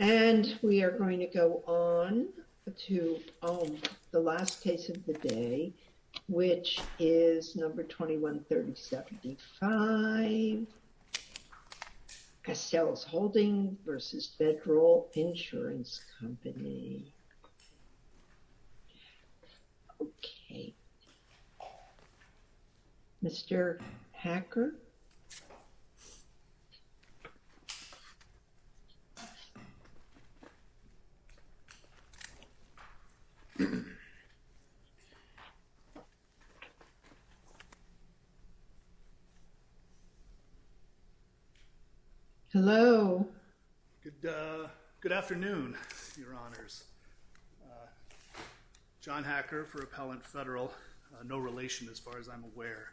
And we are going to go on to the last case of the day, which is number 21-3075. Castellas Holding v. Federal Insurance Company Mr. Hacker Hello. Good afternoon, Your Honors. John Hacker for Appellant Federal. No relation as far as I'm aware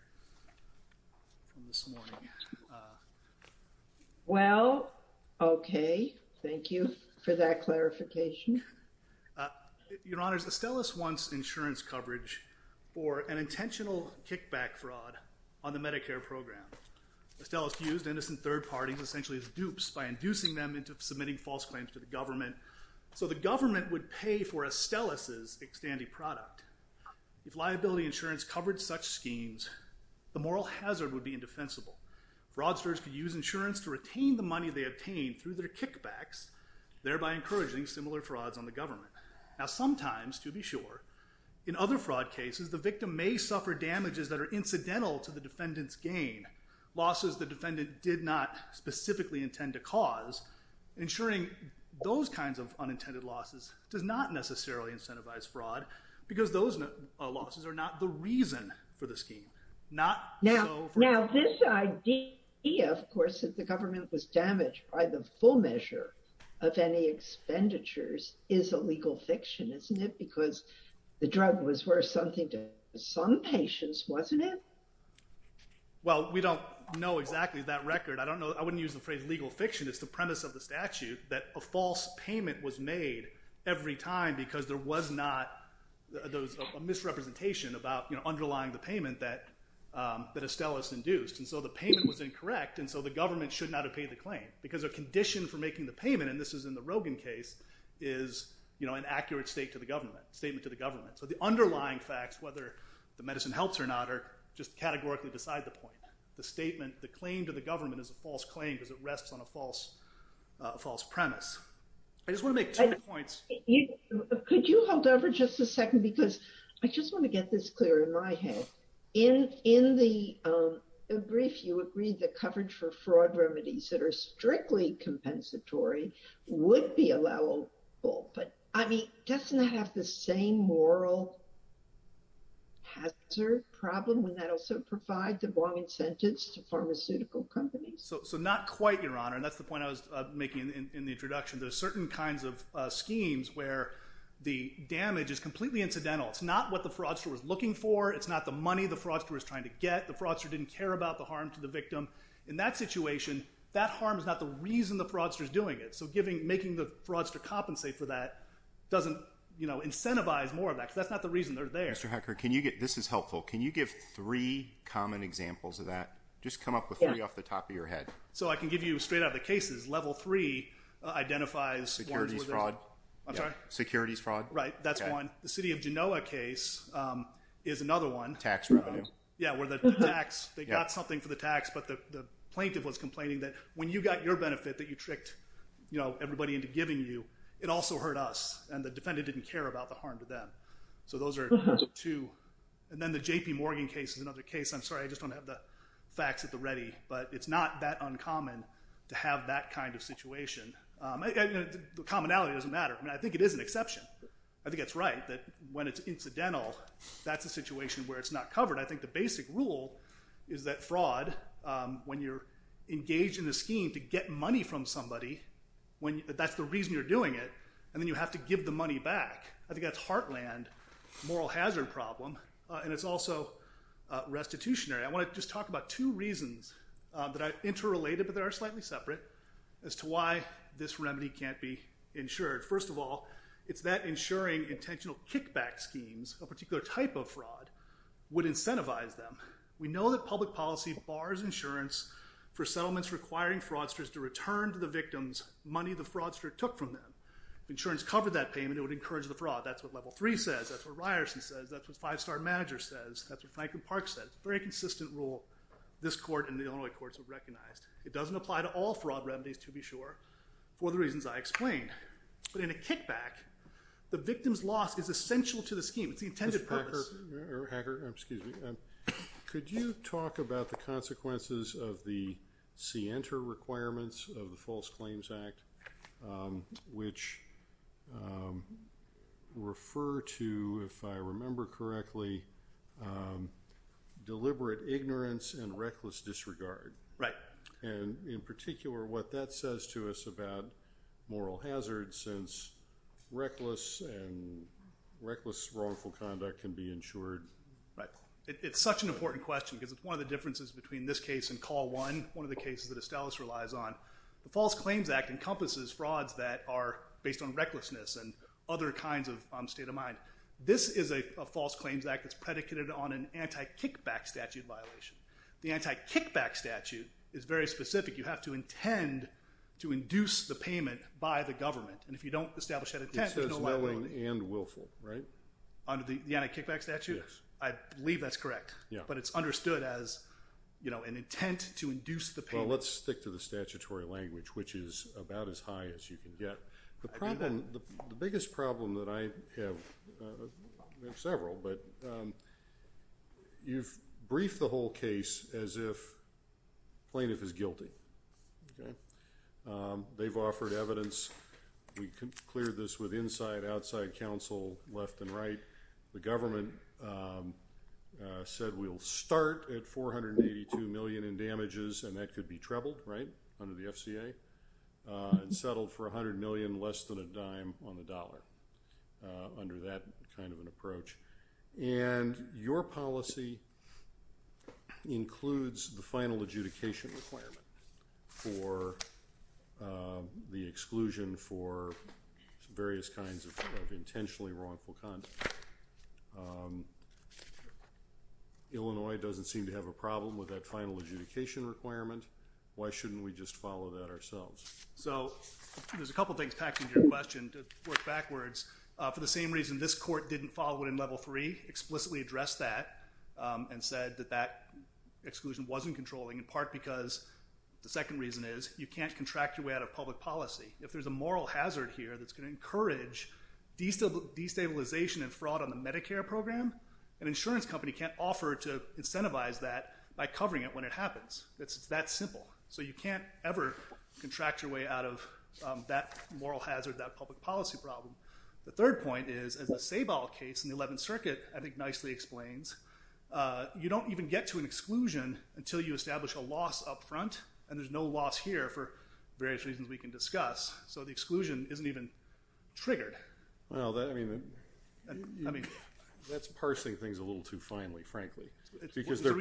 from this morning. Well, okay. Thank you for that clarification. Your Honors, Astellas wants insurance coverage for an intentional kickback fraud on the Medicare program. Astellas used innocent third parties essentially as dupes by inducing them into submitting false claims to the government, so the government would pay for Astellas' extanty product. If liability insurance covered such schemes, the moral hazard would be indefensible. Fraudsters could use insurance to retain the money they obtained through their kickbacks, thereby encouraging similar frauds on the government. Now sometimes, to be sure, in other fraud cases, the victim may suffer damages that are incidental to the defendant's gain, losses the defendant did not specifically intend to cause. Insuring those kinds of unintended losses does not necessarily incentivize fraud, because those losses are not the reason for the scheme. Now this idea, of course, that the government was damaged by the full measure of any expenditures is a legal fiction, isn't it? Because the drug was worth something to some patients, wasn't it? Well, we don't know exactly that record. I wouldn't use the phrase legal fiction. It's the premise of the statute that a false payment was made every time because there was not a misrepresentation about underlying the payment that Astellas induced. And so the payment was incorrect, and so the government should not have paid the claim, because a condition for making the payment, and this is in the Rogin case, is an accurate statement to the government. So the underlying facts, whether the medicine helps or not, are just categorically beside the point. The claim to the government is a false claim because it rests on a false premise. I just want to make two points. Could you hold over just a second? Because I just want to get this clear in my head. In the brief, you agreed that coverage for fraud remedies that are strictly compensatory would be allowable. But, I mean, doesn't that have the same moral hazard problem when that also provides the wrong incentives to pharmaceutical companies? So not quite, Your Honor. And that's the point I was making in the introduction. There are certain kinds of schemes where the damage is completely incidental. It's not what the fraudster was looking for. It's not the money the fraudster was trying to get. The fraudster didn't care about the harm to the victim. In that situation, that harm is not the reason the fraudster is doing it. So making the fraudster compensate for that doesn't incentivize more of that, because that's not the reason they're there. Mr. Hecker, this is helpful. Can you give three common examples of that? Just come up with three off the top of your head. Sure. So I can give you straight out of the cases. Level three identifies... Securities fraud. I'm sorry? Securities fraud. Right, that's one. The city of Genoa case is another one. Tax revenue. Yeah, where the tax, they got something for the tax, but the plaintiff was complaining that when you got your benefit that you tricked everybody into giving you, it also hurt us, and the defendant didn't care about the harm to them. So those are two. I'm sorry, I just don't have the facts at the ready. But it's not that uncommon to have that kind of situation. Commonality doesn't matter. I mean, I think it is an exception. I think it's right that when it's incidental, that's a situation where it's not covered. I think the basic rule is that fraud, when you're engaged in a scheme to get money from somebody, that's the reason you're doing it, and then you have to give the money back. I think that's heartland moral hazard problem, and it's also restitutionary. I want to just talk about two reasons that are interrelated but that are slightly separate as to why this remedy can't be insured. First of all, it's that insuring intentional kickback schemes, a particular type of fraud, would incentivize them. We know that public policy bars insurance for settlements requiring fraudsters to return to the victims money the fraudster took from them. If insurance covered that payment, it would encourage the fraud. That's what Level 3 says. That's what Ryerson says. That's what Five Star Manager says. That's what Franklin Park said. It's a very consistent rule this court and the Illinois courts have recognized. It doesn't apply to all fraud remedies, to be sure, for the reasons I explained. But in a kickback, the victim's loss is essential to the scheme. It's the intended purpose. Hacker, excuse me. Could you talk about the consequences of the SIENTA requirements of the False Claims Act, which refer to, if I remember correctly, deliberate ignorance and reckless disregard. And in particular, what that says to us about moral hazards, since reckless and reckless wrongful conduct can be insured. Right. It's such an important question because it's one of the differences between this case and Call 1, one of the cases that Estellas relies on. The False Claims Act encompasses frauds that are based on recklessness and other kinds of state of mind. This is a False Claims Act that's predicated on an anti-kickback statute violation. The anti-kickback statute is very specific. You have to intend to induce the payment by the government. And if you don't establish that intent, there's no liability. It says willing and willful, right? Under the anti-kickback statute? Yes. I believe that's correct. Yeah. But it's understood as, you know, an intent to induce the payment. Well, let's stick to the statutory language, which is about as high as you can get. The problem, the biggest problem that I have, we have several, but you've briefed the whole case as if plaintiff is guilty. Okay. They've offered evidence. We cleared this with inside, outside counsel, left and right. The government said we'll start at $482 million in damages, and that could be trebled, right, under the FCA. And settled for $100 million less than a dime on the dollar under that kind of an approach. And your policy includes the final adjudication requirement for the exclusion for various kinds of intentionally wrongful conduct. Illinois doesn't seem to have a problem with that final adjudication requirement. Why shouldn't we just follow that ourselves? So there's a couple things packed into your question to work backwards. For the same reason this court didn't follow it in level three, explicitly addressed that and said that that exclusion wasn't controlling, in part because the second reason is you can't contract your way out of public policy. If there's a moral hazard here that's going to encourage destabilization and fraud on the Medicare program, an insurance company can't offer to incentivize that by covering it when it happens. It's that simple. So you can't ever contract your way out of that moral hazard, that public policy problem. The third point is, as the Sabol case in the 11th Circuit I think nicely explains, you don't even get to an exclusion until you establish a loss up front, and there's no loss here for various reasons we can discuss. So the exclusion isn't even triggered. Well, I mean, that's parsing things a little too finely, frankly, because they're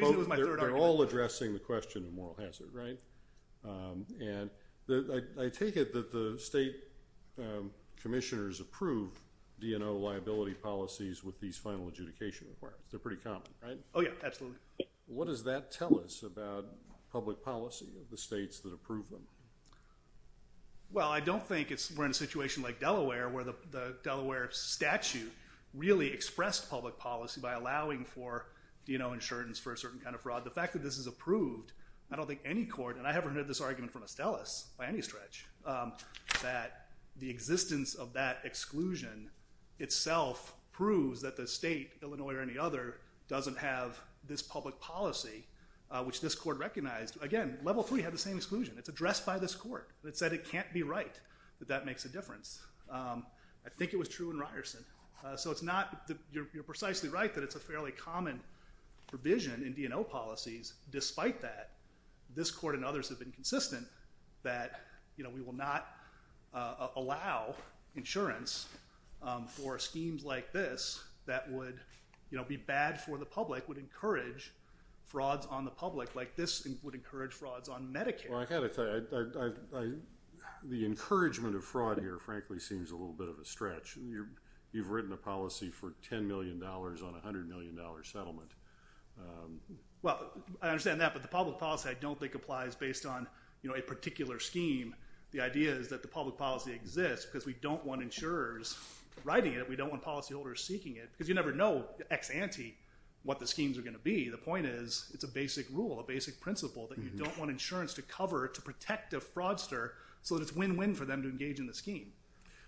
all addressing the question of moral hazard, right? And I take it that the state commissioners approve DNO liability policies with these final adjudication requirements. They're pretty common, right? Oh, yeah, absolutely. What does that tell us about public policy of the states that approve them? Well, I don't think we're in a situation like Delaware where the Delaware statute really expressed public policy by allowing for DNO insurance for a certain kind of fraud. The fact that this is approved, I don't think any court, and I haven't heard this argument from Estellas by any stretch, that the existence of that exclusion itself proves that the state, Illinois or any other, doesn't have this public policy, which this court recognized. Again, level three had the same exclusion. It's addressed by this court. It said it can't be right, that that makes a difference. I think it was true in Ryerson. So it's not that you're precisely right that it's a fairly common provision in DNO policies. Despite that, this court and others have been consistent that we will not allow insurance for schemes like this that would be bad for the public, would encourage frauds on the public, like this would encourage frauds on Medicare. Well, I've got to tell you, the encouragement of fraud here, frankly, seems a little bit of a stretch. You've written a policy for $10 million on a $100 million settlement. Well, I understand that, but the public policy I don't think applies based on a particular scheme. The idea is that the public policy exists because we don't want insurers writing it. We don't want policyholders seeking it because you never know ex ante what the schemes are going to be. The point is it's a basic rule, a basic principle that you don't want insurance to cover to protect a fraudster so that it's win-win for them to engage in the scheme.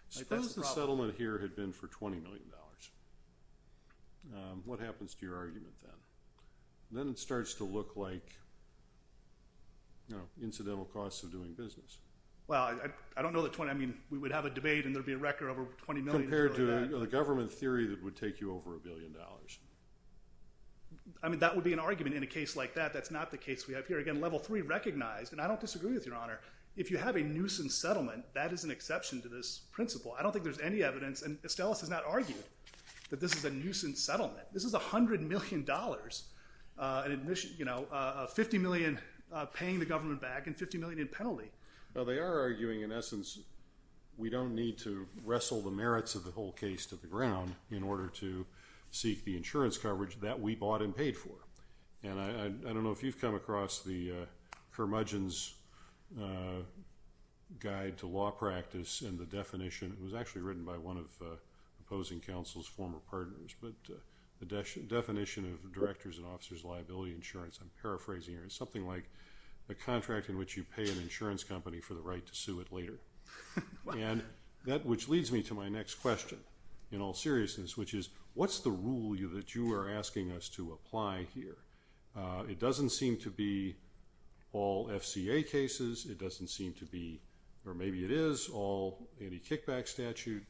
Suppose the settlement here had been for $20 million. What happens to your argument then? Then it starts to look like, you know, incidental costs of doing business. Well, I don't know the $20 million. I mean, we would have a debate and there would be a record over $20 million. Compared to the government theory that it would take you over $1 billion. I mean, that would be an argument in a case like that. That's not the case we have here. Again, Level 3 recognized, and I don't disagree with Your Honor, if you have a nuisance settlement, that is an exception to this principle. I don't think there's any evidence, and Estellas has not argued that this is a nuisance settlement. This is $100 million, you know, $50 million paying the government back and $50 million in penalty. Well, they are arguing, in essence, we don't need to wrestle the merits of the whole case to the ground in order to seek the insurance coverage that we bought and paid for. And I don't know if you've come across the Curmudgeon's Guide to Law Practice and the definition, it was actually written by one of the opposing counsel's former partners, but the definition of Director's and Officer's Liability Insurance. I'm paraphrasing here. It's something like a contract in which you pay an insurance company for the right to sue it later. And that which leads me to my next question, in all seriousness, which is what's the rule that you are asking us to apply here? It doesn't seem to be all FCA cases. It doesn't seem to be, or maybe it is, all anti-kickback statute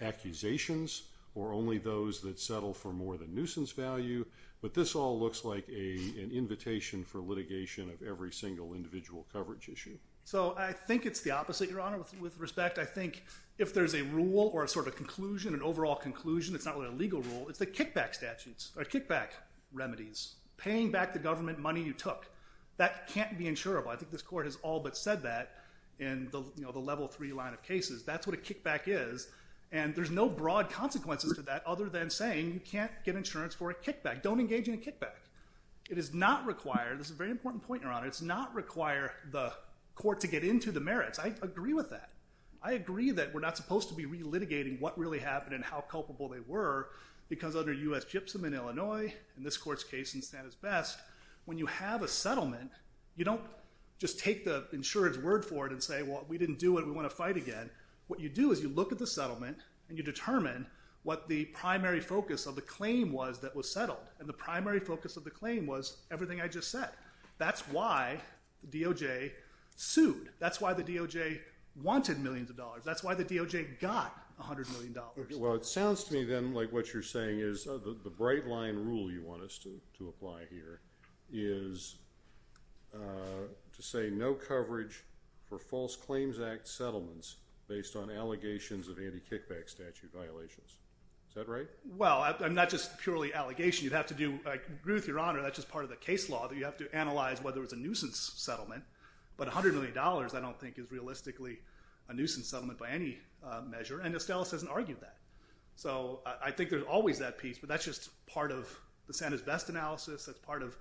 accusations or only those that settle for more than nuisance value. But this all looks like an invitation for litigation of every single individual coverage issue. So I think it's the opposite, Your Honor. With respect, I think if there's a rule or a sort of conclusion, an overall conclusion, it's not really a legal rule, it's the kickback statutes or kickback remedies. Paying back the government money you took, that can't be insurable. I think this Court has all but said that in the Level 3 line of cases. That's what a kickback is, and there's no broad consequences to that other than saying you can't get insurance for a kickback. Don't engage in a kickback. It is not required. This is a very important point, Your Honor. It does not require the court to get into the merits. I agree with that. I agree that we're not supposed to be re-litigating what really happened and how culpable they were because under U.S. Gypsum in Illinois, in this Court's case in Santa's Best, when you have a settlement, you don't just take the insurance word for it and say, well, we didn't do it, we want to fight again. What you do is you look at the settlement and you determine what the primary focus of the claim was that was settled, and the primary focus of the claim was everything I just said. That's why the DOJ sued. That's why the DOJ wanted millions of dollars. That's why the DOJ got $100 million. Well, it sounds to me then like what you're saying is the bright line rule you want us to apply here is to say no coverage for False Claims Act settlements based on allegations of anti-kickback statute violations. Is that right? Well, I'm not just purely allegation. You'd have to do, Ruth, Your Honor, that's just part of the case law that you have to analyze whether it's a nuisance settlement. But $100 million I don't think is realistically a nuisance settlement by any measure, and Estellas hasn't argued that. So I think there's always that piece, but that's just part of the Santa's Best analysis. That's part of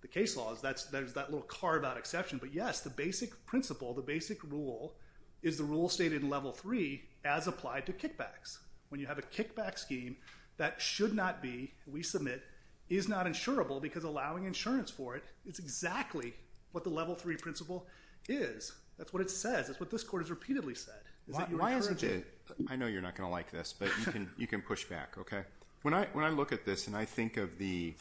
the case law. There's that little carve-out exception. But, yes, the basic principle, the basic rule, is the rule stated in Level 3 as applied to kickbacks. When you have a kickback scheme that should not be, we submit, is not insurable because allowing insurance for it, it's exactly what the Level 3 principle is. That's what it says. That's what this Court has repeatedly said. Why isn't it? I know you're not going to like this, but you can push back. When I look at this and I think of the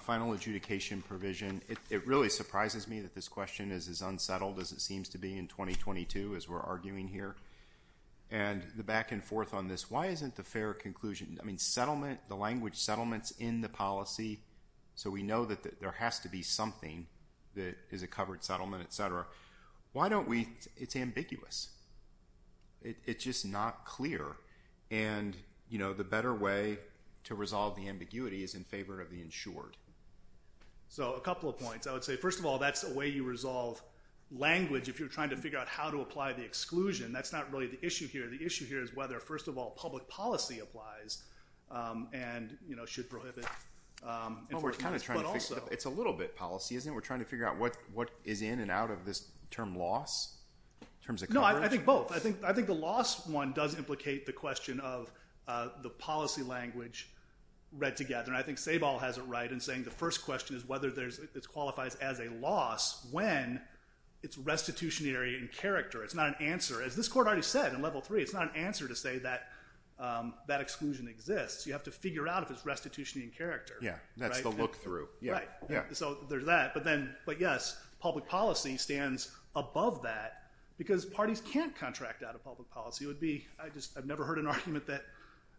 final adjudication provision, it really surprises me that this question is as unsettled as it seems to be in 2022 as we're arguing here. And the back and forth on this, why isn't the fair conclusion, I mean, settlement, the language settlements in the policy, so we know that there has to be something that is a covered settlement, et cetera, why don't we, it's ambiguous. It's just not clear. And, you know, the better way to resolve the ambiguity is in favor of the insured. So a couple of points. I would say, first of all, that's the way you resolve language if you're trying to figure out how to apply the exclusion. That's not really the issue here. The issue here is whether, first of all, public policy applies and should prohibit enforcement. But also. It's a little bit policy, isn't it? We're trying to figure out what is in and out of this term loss in terms of coverage. No, I think both. I think the loss one does implicate the question of the policy language read together. And I think Sabol has it right in saying the first question is whether it qualifies as a loss when it's restitutionary in character. It's not an answer. As this court already said in level three, it's not an answer to say that that exclusion exists. You have to figure out if it's restitutionary in character. Yeah, that's the look through. Right. So there's that. But yes, public policy stands above that because parties can't contract out of public policy. It would be. I've never heard an argument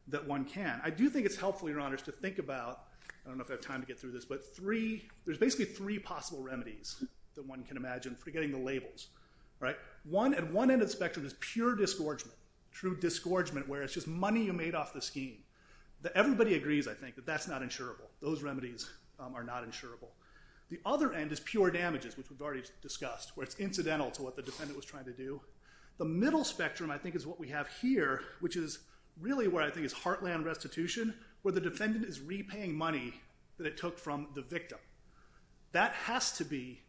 that one can. I do think it's helpful, Your Honors, to think about. I don't know if I have time to get through this. But there's basically three possible remedies that one can imagine forgetting the labels. One end of the spectrum is pure disgorgement, true disgorgement where it's just money you made off the scheme. Everybody agrees, I think, that that's not insurable. Those remedies are not insurable. The other end is pure damages, which we've already discussed, where it's incidental to what the defendant was trying to do. The middle spectrum, I think, is what we have here, which is really where I think it's heartland restitution where the defendant is repaying money that it took from the victim. That has to be,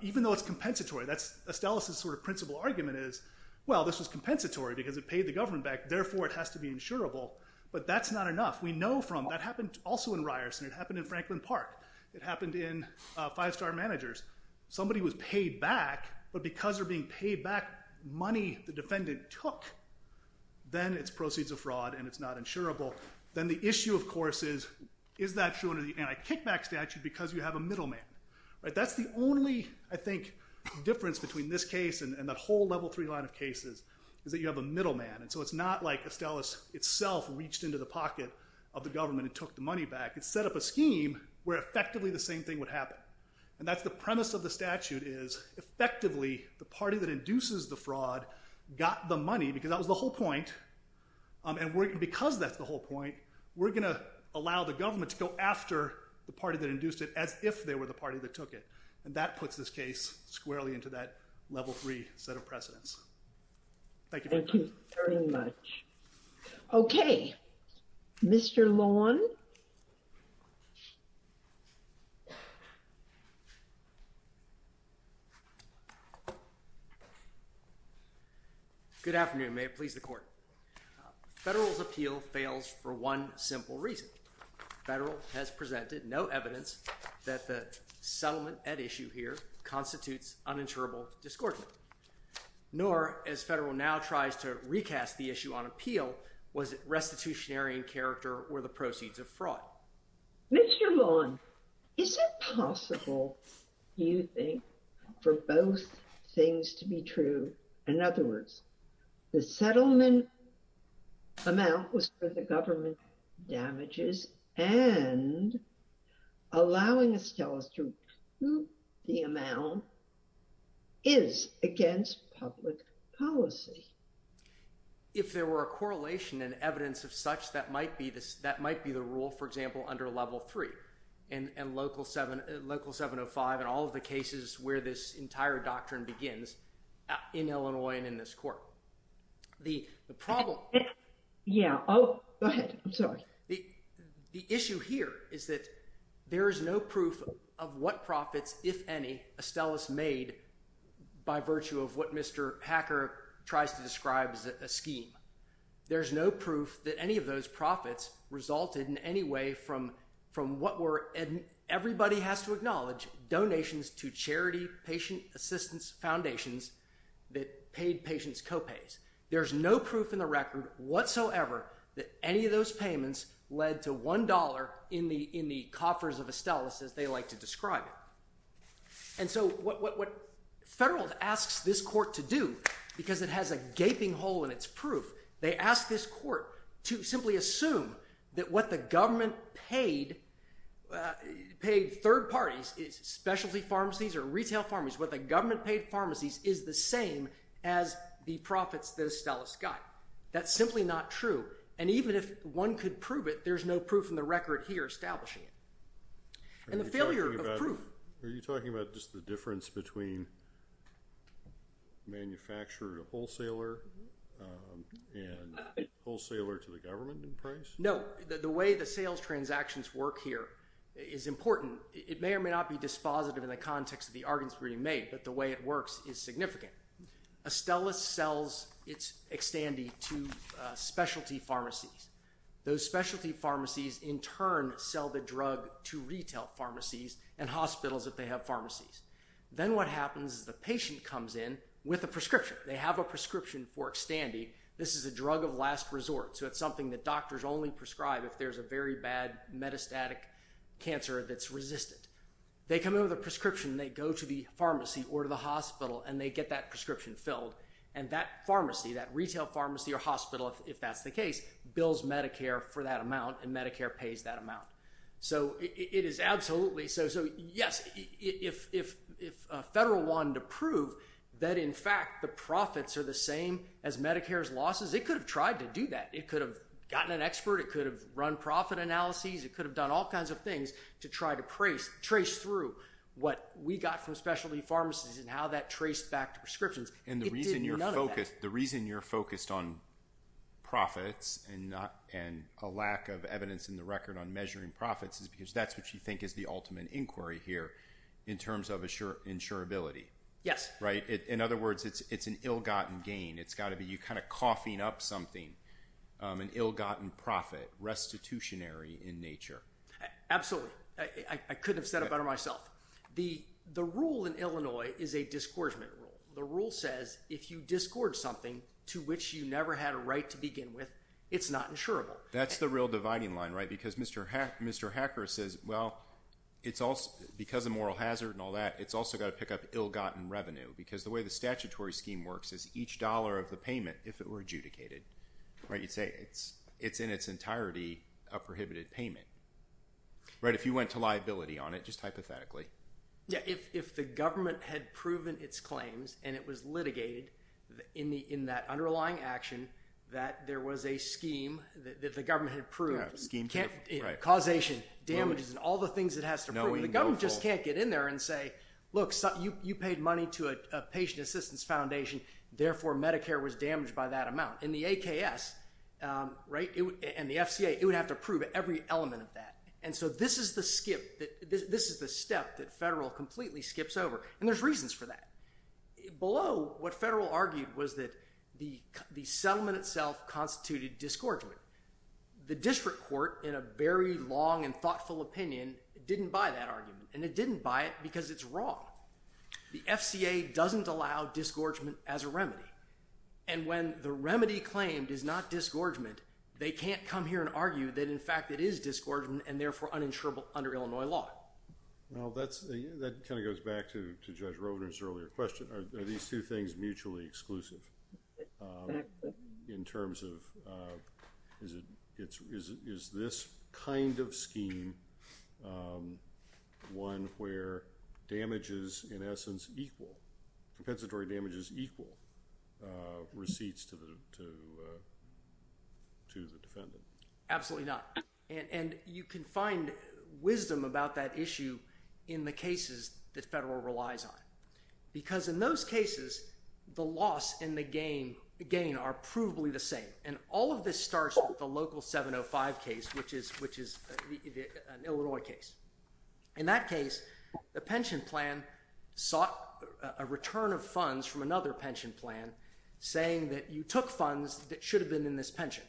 even though it's compensatory, that's Estella's sort of principal argument is, well, this was compensatory because it paid the government back. Therefore, it has to be insurable. But that's not enough. We know from, that happened also in Ryerson. It happened in Franklin Park. It happened in Five Star Managers. Somebody was paid back, but because they're being paid back money the defendant took, then it's proceeds of fraud and it's not insurable. Then the issue, of course, is, is that true under the anti-kickback statute because you have a middleman? That's the only, I think, difference between this case and that whole level three line of cases is that you have a middleman. So it's not like Estella's itself reached into the pocket of the government and took the money back. It set up a scheme where effectively the same thing would happen. That's the premise of the statute is, effectively, the party that induces the fraud got the money because that was the whole point, and because that's the whole point, we're going to allow the government to go after the party that induced it as if they were the party that took it, and that puts this case squarely into that level three set of precedents. Thank you very much. Thank you very much. Okay, Mr. Lawn. Good afternoon. May it please the court. Federal's appeal fails for one simple reason. Federal has presented no evidence that the settlement at issue here constitutes uninsurable discordant, nor, as Federal now tries to recast the issue on appeal, was it restitutionary in character or the proceeds of fraud. Mr. Lawn, is it possible, do you think, for both things to be true? In other words, the settlement amount that was for the government damages and allowing Estellas to recoup the amount is against public policy. If there were a correlation and evidence of such, that might be the rule, for example, under level three and local 705 and all of the cases where this entire doctrine begins in Illinois and in this court. The problem... Yeah. Go ahead. I'm sorry. The issue here is that there is no proof of what profits, if any, Estellas made by virtue of what Mr. Hacker tries to describe as a scheme. There's no proof that any of those profits resulted in any way from what were, and everybody has to acknowledge, donations to charity patient assistance foundations that paid patients co-pays. There's no proof in the record whatsoever that any of those payments led to $1 in the coffers of Estellas, as they like to describe it. And so what Federal asks this court to do, because it has a gaping hole in its proof, they ask this court to simply assume that what the government paid third parties, specialty pharmacies or retail pharmacies, what the government paid pharmacies, is the same as the profits that Estellas got. That's simply not true. And even if one could prove it, there's no proof in the record here establishing it. And the failure of proof... Are you talking about just the difference between manufacturer to wholesaler and wholesaler to the government in price? No. The way the sales transactions work here is important. It may or may not be dispositive in the context of the arguments being made, but the way it works is significant. Estellas sells its Xtandi to specialty pharmacies. Those specialty pharmacies in turn sell the drug to retail pharmacies and hospitals if they have pharmacies. Then what happens is the patient comes in with a prescription. They have a prescription for Xtandi. This is a drug of last resort, so it's something that doctors only prescribe if there's a very bad metastatic cancer that's resistant. They come in with a prescription. They go to the pharmacy or to the hospital, and they get that prescription filled. And that pharmacy, that retail pharmacy or hospital, if that's the case, bills Medicare for that amount, and Medicare pays that amount. So it is absolutely so. So yes, if a federal wanted to prove that in fact the profits are the same as Medicare's losses, it could have tried to do that. It could have gotten an expert. It could have run profit analyses. It could have done all kinds of things to try to trace through what we got from specialty pharmacies and how that traced back to prescriptions. It did none of that. And the reason you're focused on profits and a lack of evidence in the record on measuring profits is because that's what you think is the ultimate inquiry here in terms of insurability. Yes. In other words, it's an ill-gotten gain. It's got to be you kind of coughing up something, an ill-gotten profit, restitutionary in nature. Absolutely. I couldn't have said it better myself. The rule in Illinois is a disgorgement rule. The rule says if you disgorge something to which you never had a right to begin with, it's not insurable. That's the real dividing line, right? Because Mr. Hacker says, well, because of moral hazard and all that, it's also got to pick up ill-gotten revenue because the way the statutory scheme works is each dollar of the payment, if it were adjudicated, you'd say it's in its entirety a prohibited payment. Right? If you went to liability on it, just hypothetically. Yeah. If the government had proven its claims and it was litigated in that underlying action that there was a scheme that the government had proved, causation, damages, and all the things it has to prove, the government just can't get in there and say, look, you paid money to a patient assistance foundation, therefore Medicare was damaged by that amount. And the AKS, right, and the FCA, it would have to prove every element of that. And so this is the skip, this is the step that federal completely skips over. And there's reasons for that. Below, what federal argued was that the settlement itself constituted disgorgement. The district court, in a very long and thoughtful opinion, didn't buy that argument. And it didn't buy it because it's wrong. The FCA doesn't allow disgorgement as a remedy. And when the remedy claimed is not disgorgement, they can't come here and argue that in fact it is disgorgement and therefore uninsurable under Illinois law. Well, that kind of goes back to Judge Rovner's earlier question. Are these two things mutually exclusive? Exactly. In terms of, is this kind of scheme one where damages, in essence, equal, compensatory damages equal receipts to the defendant? Absolutely not. And you can find wisdom about that issue in the cases that federal relies on. Because in those cases, the loss and the gain are provably the same. And all of this starts with the local 705 case, which is an Illinois case. In that case, the pension plan sought a return of funds from another pension plan saying that you took funds that should have been in this pension.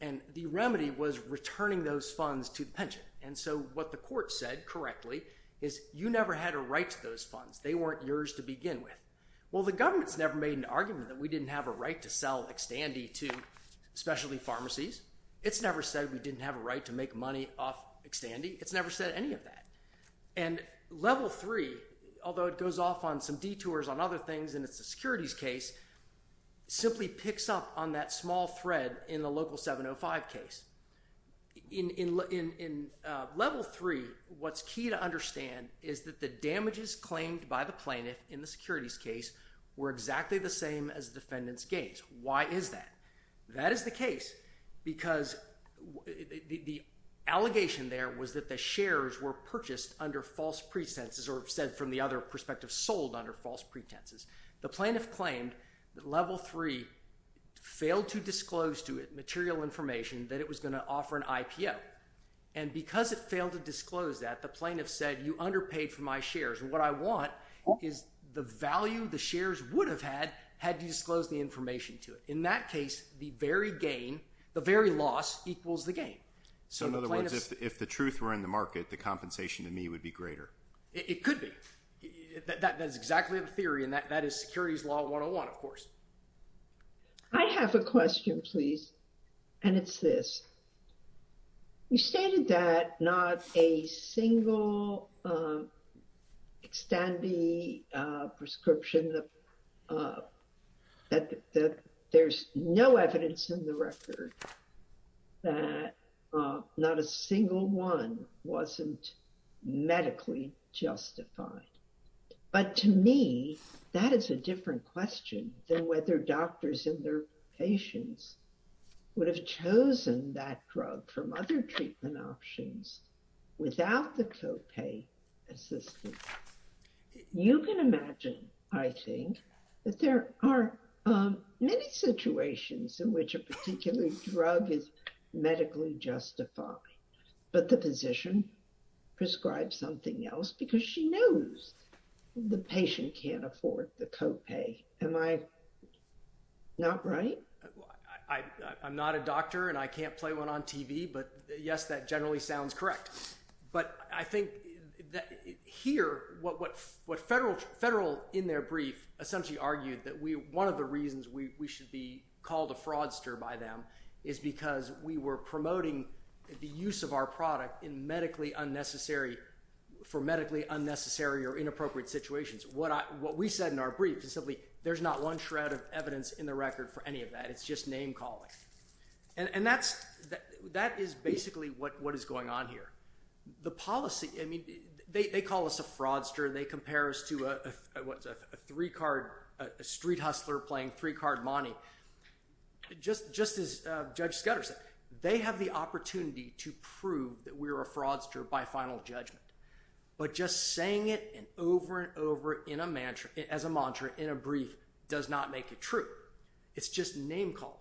And the remedy was returning those funds to the pension. And so what the court said, correctly, is you never had a right to those funds. They weren't yours to begin with. Well, the government's never made an argument that we didn't have a right to sell Xtandi to specialty pharmacies. It's never said we didn't have a right to make money off Xtandi. It's never said any of that. And Level 3, although it goes off on some detours on other things and it's a securities case, simply picks up on that small thread in the local 705 case. In Level 3, what's key to understand is that the damages claimed by the plaintiff in the securities case were exactly the same as the defendant's gains. Why is that? That is the case because the allegation there was that the shares were purchased under false pretenses or said, from the other perspective, sold under false pretenses. The plaintiff claimed that Level 3 failed to disclose to it material information that it was going to offer an IPO. And because it failed to disclose that, the plaintiff said, you underpaid for my shares. And what I want is the value the shares would have had had you disclosed the information to it. In that case, the very loss equals the gain. So in other words, if the truth were in the market, the compensation to me would be greater. It could be. That is exactly the theory. And that is Securities Law 101, of course. I have a question, please. And it's this. You stated that not a single extendi prescription, that there's no evidence in the record that not a single one wasn't medically justified. But to me, that is a different question than whether doctors and their patients would have chosen that drug from other treatment options without the copay assistance. You can imagine, I think, that there are many situations in which a particular drug is medically justified. But the physician prescribes something else because she knows the patient can't afford the copay. Am I not right? I'm not a doctor, and I can't play one on TV. But yes, that generally sounds correct. But I think here, what Federal, in their brief, essentially argued that one of the reasons we should be called a fraudster by them is because we were promoting the use of our product for medically unnecessary or inappropriate situations. What we said in our brief is simply, there's not one shred of evidence in the record for any of that. It's just name-calling. And that is basically what is going on here. The policy, I mean, they call us a fraudster. They compare us to a three-card street hustler playing three-card money. Just as Judge Scudder said, they have the opportunity to prove that we are a fraudster by final judgment. But just saying it over and over as a mantra in a brief does not make it true. It's just name-calling.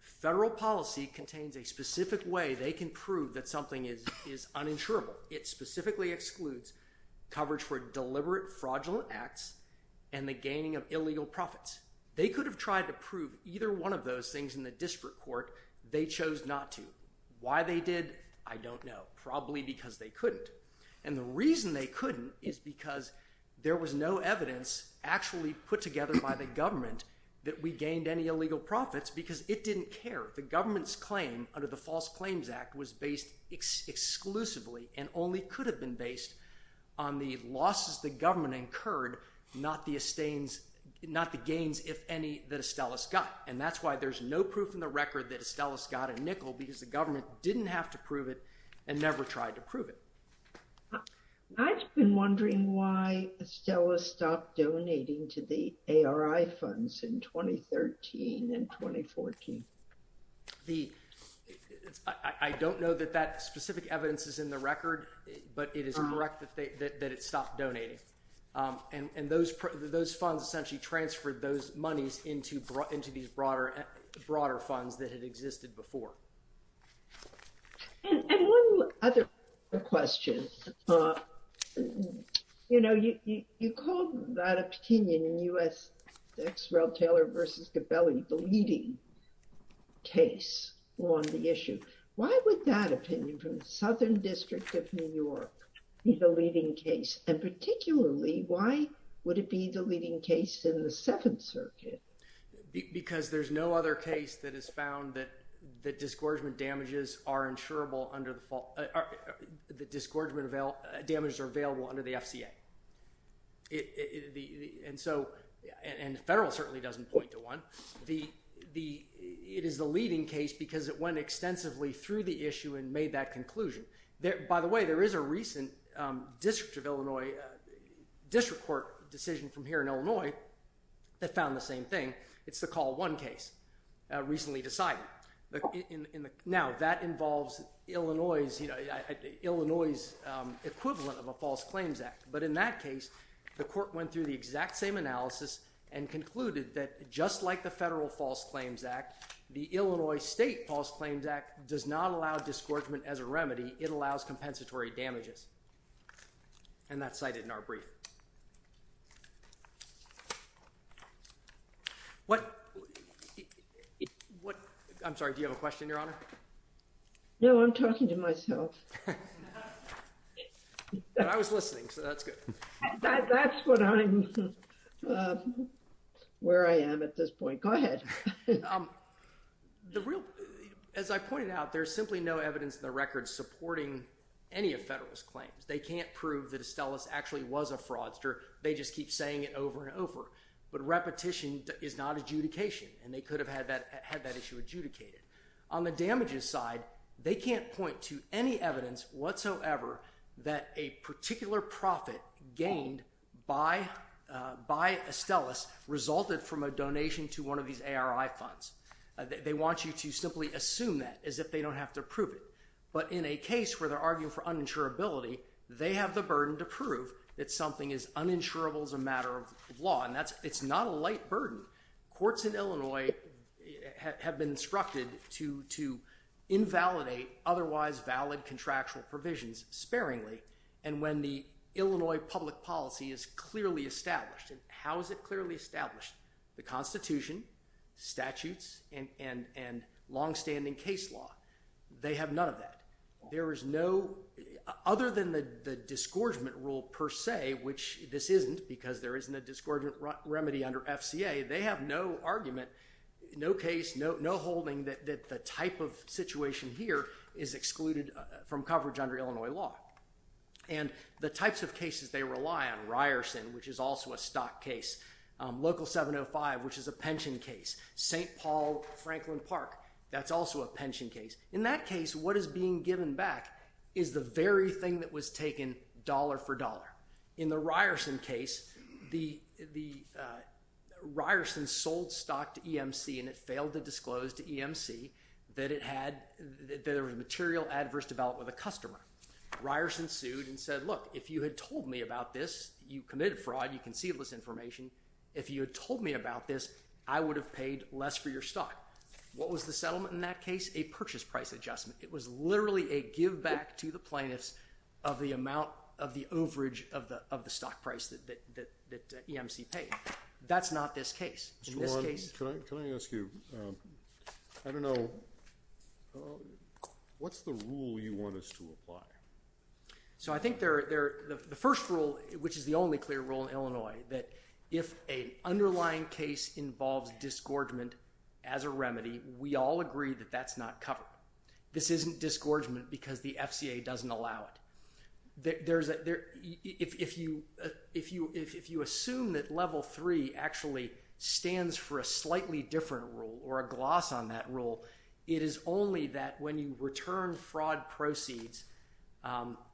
Federal policy contains a specific way they can prove that something is uninsurable. It specifically excludes coverage for deliberate, fraudulent acts and the gaining of illegal profits. They could have tried to prove either one of those things in the district court. They chose not to. Why they did, I don't know. Probably because they couldn't. And the reason they couldn't is because there was no evidence actually put together by the government that we gained any illegal profits because it didn't care. The government's claim under the False Claims Act was based exclusively and only could have been based on the losses the government incurred, not the gains, if any, that Estellas got. And that's why there's no proof in the record that Estellas got a nickel, because the government didn't have to prove it and never tried to prove it. I've been wondering why Estellas stopped donating to the ARI funds in 2013 and 2014. I don't know that that specific evidence is in the record, but it is correct that it stopped donating. And those funds essentially transferred those monies into these broader funds that had existed before. And one other question. You know, you called that opinion in U.S. Exerell-Taylor v. Gabelli the leading case on the issue. Why would that opinion from the Southern District of New York be the leading case? And particularly, why would it be the leading case in the Seventh Circuit? Because there's no other case that has found that disgorgement damages are insurable under the FCA. And the federal certainly doesn't point to one. It is the leading case because it went extensively through the issue and made that conclusion. By the way, there is a recent District Court decision from here in Illinois that found the same thing. It's the Call 1 case recently decided. Now, that involves Illinois' equivalent of a False Claims Act. But in that case, the court went through the exact same analysis and concluded that just like the Federal False Claims Act, the Illinois State False Claims Act does not allow disgorgement as a remedy. It allows compensatory damages. And that's cited in our brief. I'm sorry, do you have a question, Your Honor? No, I'm talking to myself. But I was listening, so that's good. That's where I am at this point. Go ahead. As I pointed out, there's simply no evidence in the record supporting any of Federalist's claims. They can't prove that Estellas actually was a fraudster. They just keep saying it over and over. But repetition is not adjudication, and they could have had that issue adjudicated. On the damages side, they can't point to any evidence whatsoever that a particular profit gained by Estellas resulted from a donation to one of these ARI funds. They want you to simply assume that as if they don't have to prove it. But in a case where they're arguing for uninsurability, they have the burden to prove that something is uninsurable as a matter of law. And it's not a light burden. Courts in Illinois have been instructed to invalidate otherwise valid contractual provisions sparingly. And when the Illinois public policy is clearly established, and how is it clearly established? The Constitution, statutes, and longstanding case law, they have none of that. There is no, other than the disgorgement rule per se, which this isn't because there isn't a disgorgement remedy under FCA, they have no argument, no case, no holding that the type of situation here is excluded from coverage under Illinois law. And the types of cases they rely on, Local 705, which is a pension case. St. Paul-Franklin Park, that's also a pension case. In that case, what is being given back is the very thing that was taken dollar for dollar. In the Ryerson case, the Ryerson sold stock to EMC and it failed to disclose to EMC that it had, that there was material adverse development with a customer. Ryerson sued and said, look, if you had told me about this, you committed fraud, you can see this information, if you had told me about this, I would have paid less for your stock. What was the settlement in that case? A purchase price adjustment. It was literally a give back to the plaintiffs of the amount of the overage of the stock price that EMC paid. That's not this case. Can I ask you, I don't know, what's the rule you want us to apply? So I think the first rule, which is the only clear rule in Illinois, that if an underlying case involves disgorgement as a remedy, we all agree that that's not covered. This isn't disgorgement because the FCA doesn't allow it. If you assume that level three or a gloss on that rule, it is only that when you return fraud proceeds,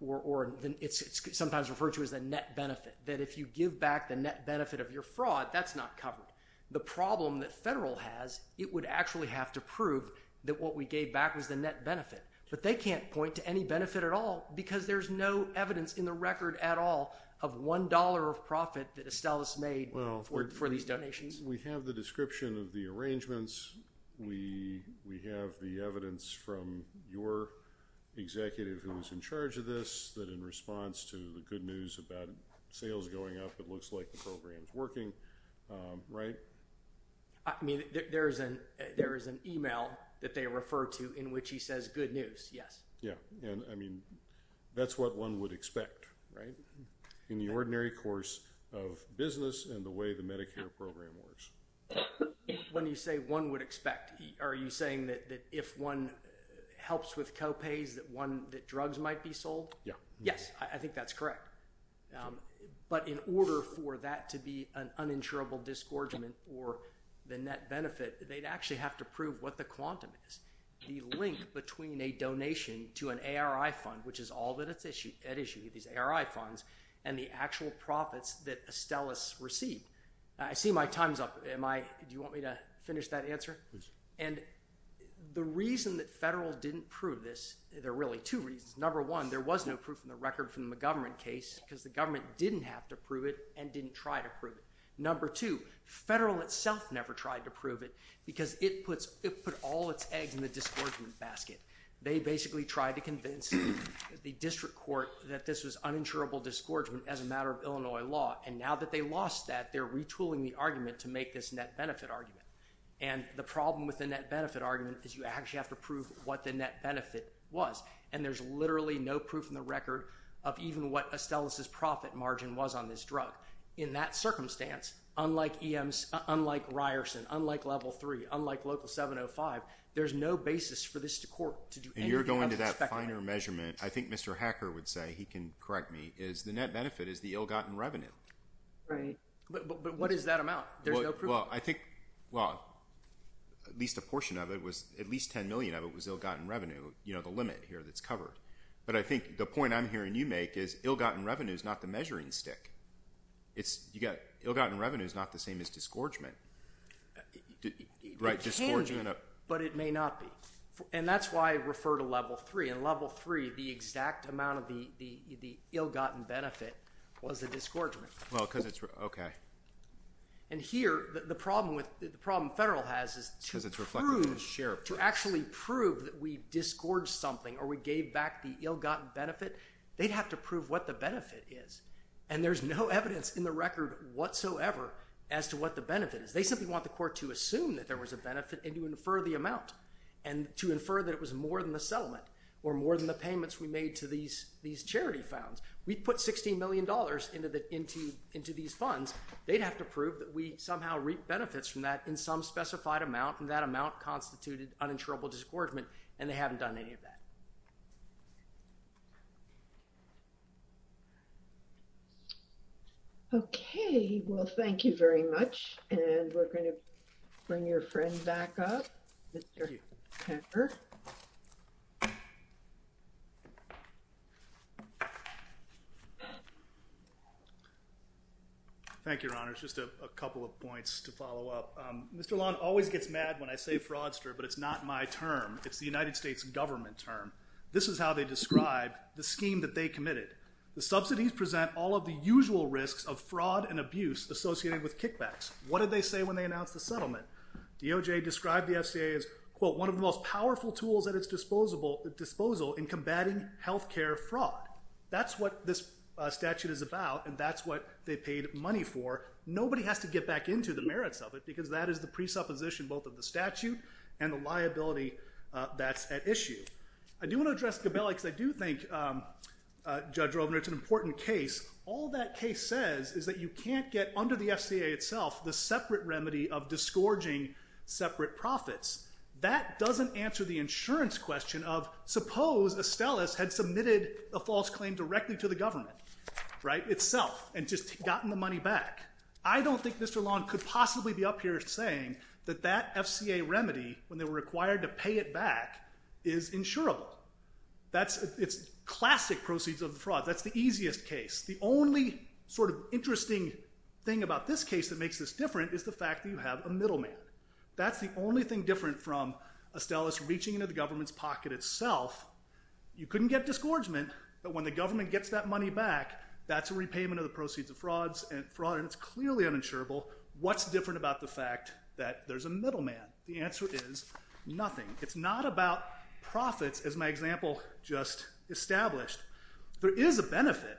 or it's sometimes referred to as a net benefit, that if you give back the net benefit of your fraud, that's not covered. The problem that federal has, it would actually have to prove that what we gave back was the net benefit. But they can't point to any benefit at all because there's no evidence in the record at all of $1 of profit that Estellas made for these donations. We have the description of the arrangements. We have the evidence from your executive who's in charge of this, that in response to the good news about sales going up, it looks like the program's working, right? I mean, there is an email that they refer to in which he says good news, yes. Yeah, and I mean, that's what one would expect, right? In the ordinary course of business and the way the Medicare program works. When you say one would expect, are you saying that if one helps with co-pays that drugs might be sold? Yeah. Yes, I think that's correct. But in order for that to be an uninsurable disgorgement or the net benefit, they'd actually have to prove what the quantum is. The link between a donation to an ARI fund, which is all that it's issued, these ARI funds, and the actual profits that Estellas received. I see my time's up. Do you want me to finish that answer? And the reason that federal didn't prove this, there are really two reasons. Number one, there was no proof in the record from the McGovern case because the government didn't have to prove it and didn't try to prove it. Number two, federal itself never tried to prove it because it put all its eggs in the disgorgement basket. They basically tried to convince the district court that this was uninsurable disgorgement as a matter of Illinois law. And now that they lost that, they're retooling the argument to make this net benefit argument. And the problem with the net benefit argument is you actually have to prove what the net benefit was, and there's literally no proof in the record of even what Estellas' profit margin was on this drug. In that circumstance, unlike Ryerson, unlike Level 3, unlike Local 705, there's no basis for this court to do anything... And you're going to that finer measurement, I think Mr. Hacker would say, he can correct me, is the net benefit is the ill-gotten revenue. Right. But what is that amount? There's no proof. Well, I think... Well, at least a portion of it was... At least $10 million of it was ill-gotten revenue, you know, the limit here that's covered. But I think the point I'm hearing you make is ill-gotten revenue is not the measuring stick. It's... Ill-gotten revenue is not the same as disgorgement. Right, disgorgement... It can be, but it may not be. And that's why I refer to Level 3. In Level 3, the exact amount of the ill-gotten benefit was the disgorgement. Well, because it's... OK. And here, the problem with... The problem the federal has is to prove... Because it's reflected in the sheriff's... To actually prove that we disgorged something or we gave back the ill-gotten benefit, they'd have to prove what the benefit is. And there's no evidence in the record whatsoever as to what the benefit is. They simply want the court to assume that there was a benefit and to infer the amount and to infer that it was more than the settlement or more than the payments we made to these charity funds. We put $16 million into these funds. They'd have to prove that we somehow reaped benefits from that in some specified amount, and that amount constituted uninsurable disgorgement, and they haven't done any of that. OK. Well, thank you very much. And we're going to bring your friend back up, Mr. Pepper. Thank you, Your Honor. Just a couple of points to follow up. Mr. Long always gets mad when I say fraudster, but it's not my term. It's the United States government term. This is how they describe the scheme that they committed. The subsidies present all of the usual risks of fraud and abuse associated with kickbacks. What did they say when they announced the settlement? DOJ described the FCA as, quote, one of the most powerful tools at its disposal in combating health care fraud. That's what this statute is about, and that's what they paid money for. Nobody has to get back into the merits of it, because that is the presupposition both of the statute and the liability that's at issue. I do want to address Gabelli, because I do think, Judge Rovner, it's an important case. All that case says is that you can't get, under the FCA itself, the separate remedy of disgorging separate profits. That doesn't answer the insurance question of, suppose Estellas had submitted a false claim directly to the government itself and just gotten the money back. I don't think Mr. Long could possibly be up here saying that that FCA remedy, when they were required to pay it back, is insurable. It's classic proceeds of fraud. That's the easiest case. The only interesting thing about this case that makes this different is the fact that you have a middleman. That's the only thing different from going into the government's pocket itself. You couldn't get disgorgement that when the government gets that money back, that's a repayment of the proceeds of fraud, and it's clearly uninsurable. What's different about the fact that there's a middleman? The answer is nothing. It's not about profits, as my example just established. There is a benefit.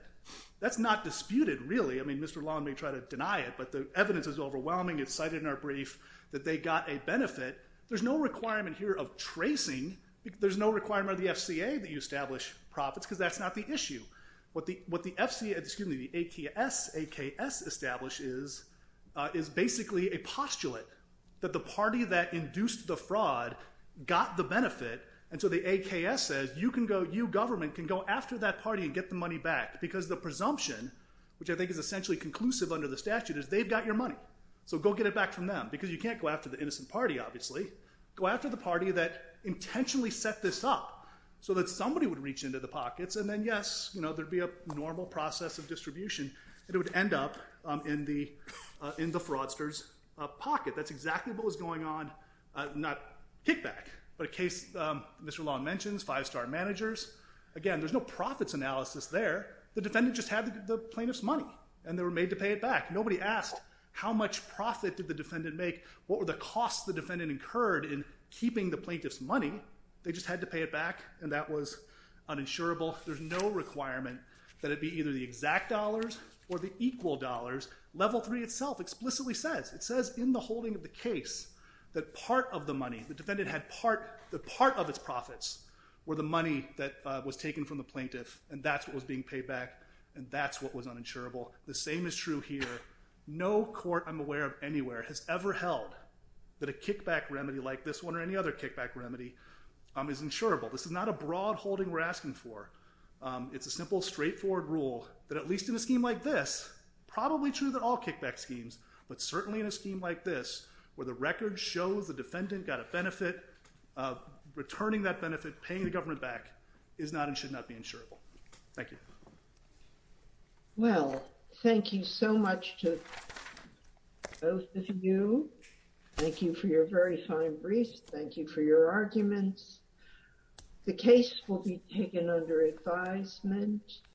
That's not disputed, really. Mr. Long may try to deny it, but the evidence is overwhelming. It's cited in our brief that they got a benefit. There's no requirement here of tracing. There's no requirement of the FCA that you establish profits, because that's not the issue. What the AKS establishes is basically a postulate that the party that induced the fraud got the benefit, and so the AKS says, you government can go after that party and get the money back, because the presumption, which I think is essentially conclusive under the statute, is they've got your money, so go get it back from them, because you can't go after the innocent party, obviously. Go after the party that intentionally set this up so that somebody would reach into the pockets, and then, yes, you know, there'd be a normal process of distribution, and it would end up in the fraudster's pocket. That's exactly what was going on, not kickback, but a case Mr. Long mentions, five-star managers. Again, there's no profits analysis there. The defendant just had the plaintiff's money, and they were made to pay it back. Nobody asked how much profit did the defendant make, what were the costs the defendant incurred in keeping the plaintiff's money. They just had to pay it back, and that was uninsurable. There's no requirement that it be either the exact dollars or the equal dollars. Level 3 itself explicitly says, it says in the holding of the case that part of the money, the defendant had part of its profits were the money that was taken from the plaintiff, and that's what was being paid back, and that's what was uninsurable. The same is true here. No court I'm aware of anywhere has ever held that a kickback remedy like this one or any other kickback remedy is insurable. This is not a broad holding we're asking for. It's a simple, straightforward rule that at least in a scheme like this, probably true of all kickback schemes, but certainly in a scheme like this where the record shows the defendant got a benefit, returning that benefit, paying the government back, is not and should not be insurable. Thank you. Well, thank you so much to both of you. Thank you for your very fine briefs. Thank you for your arguments. The case will be taken under advisement.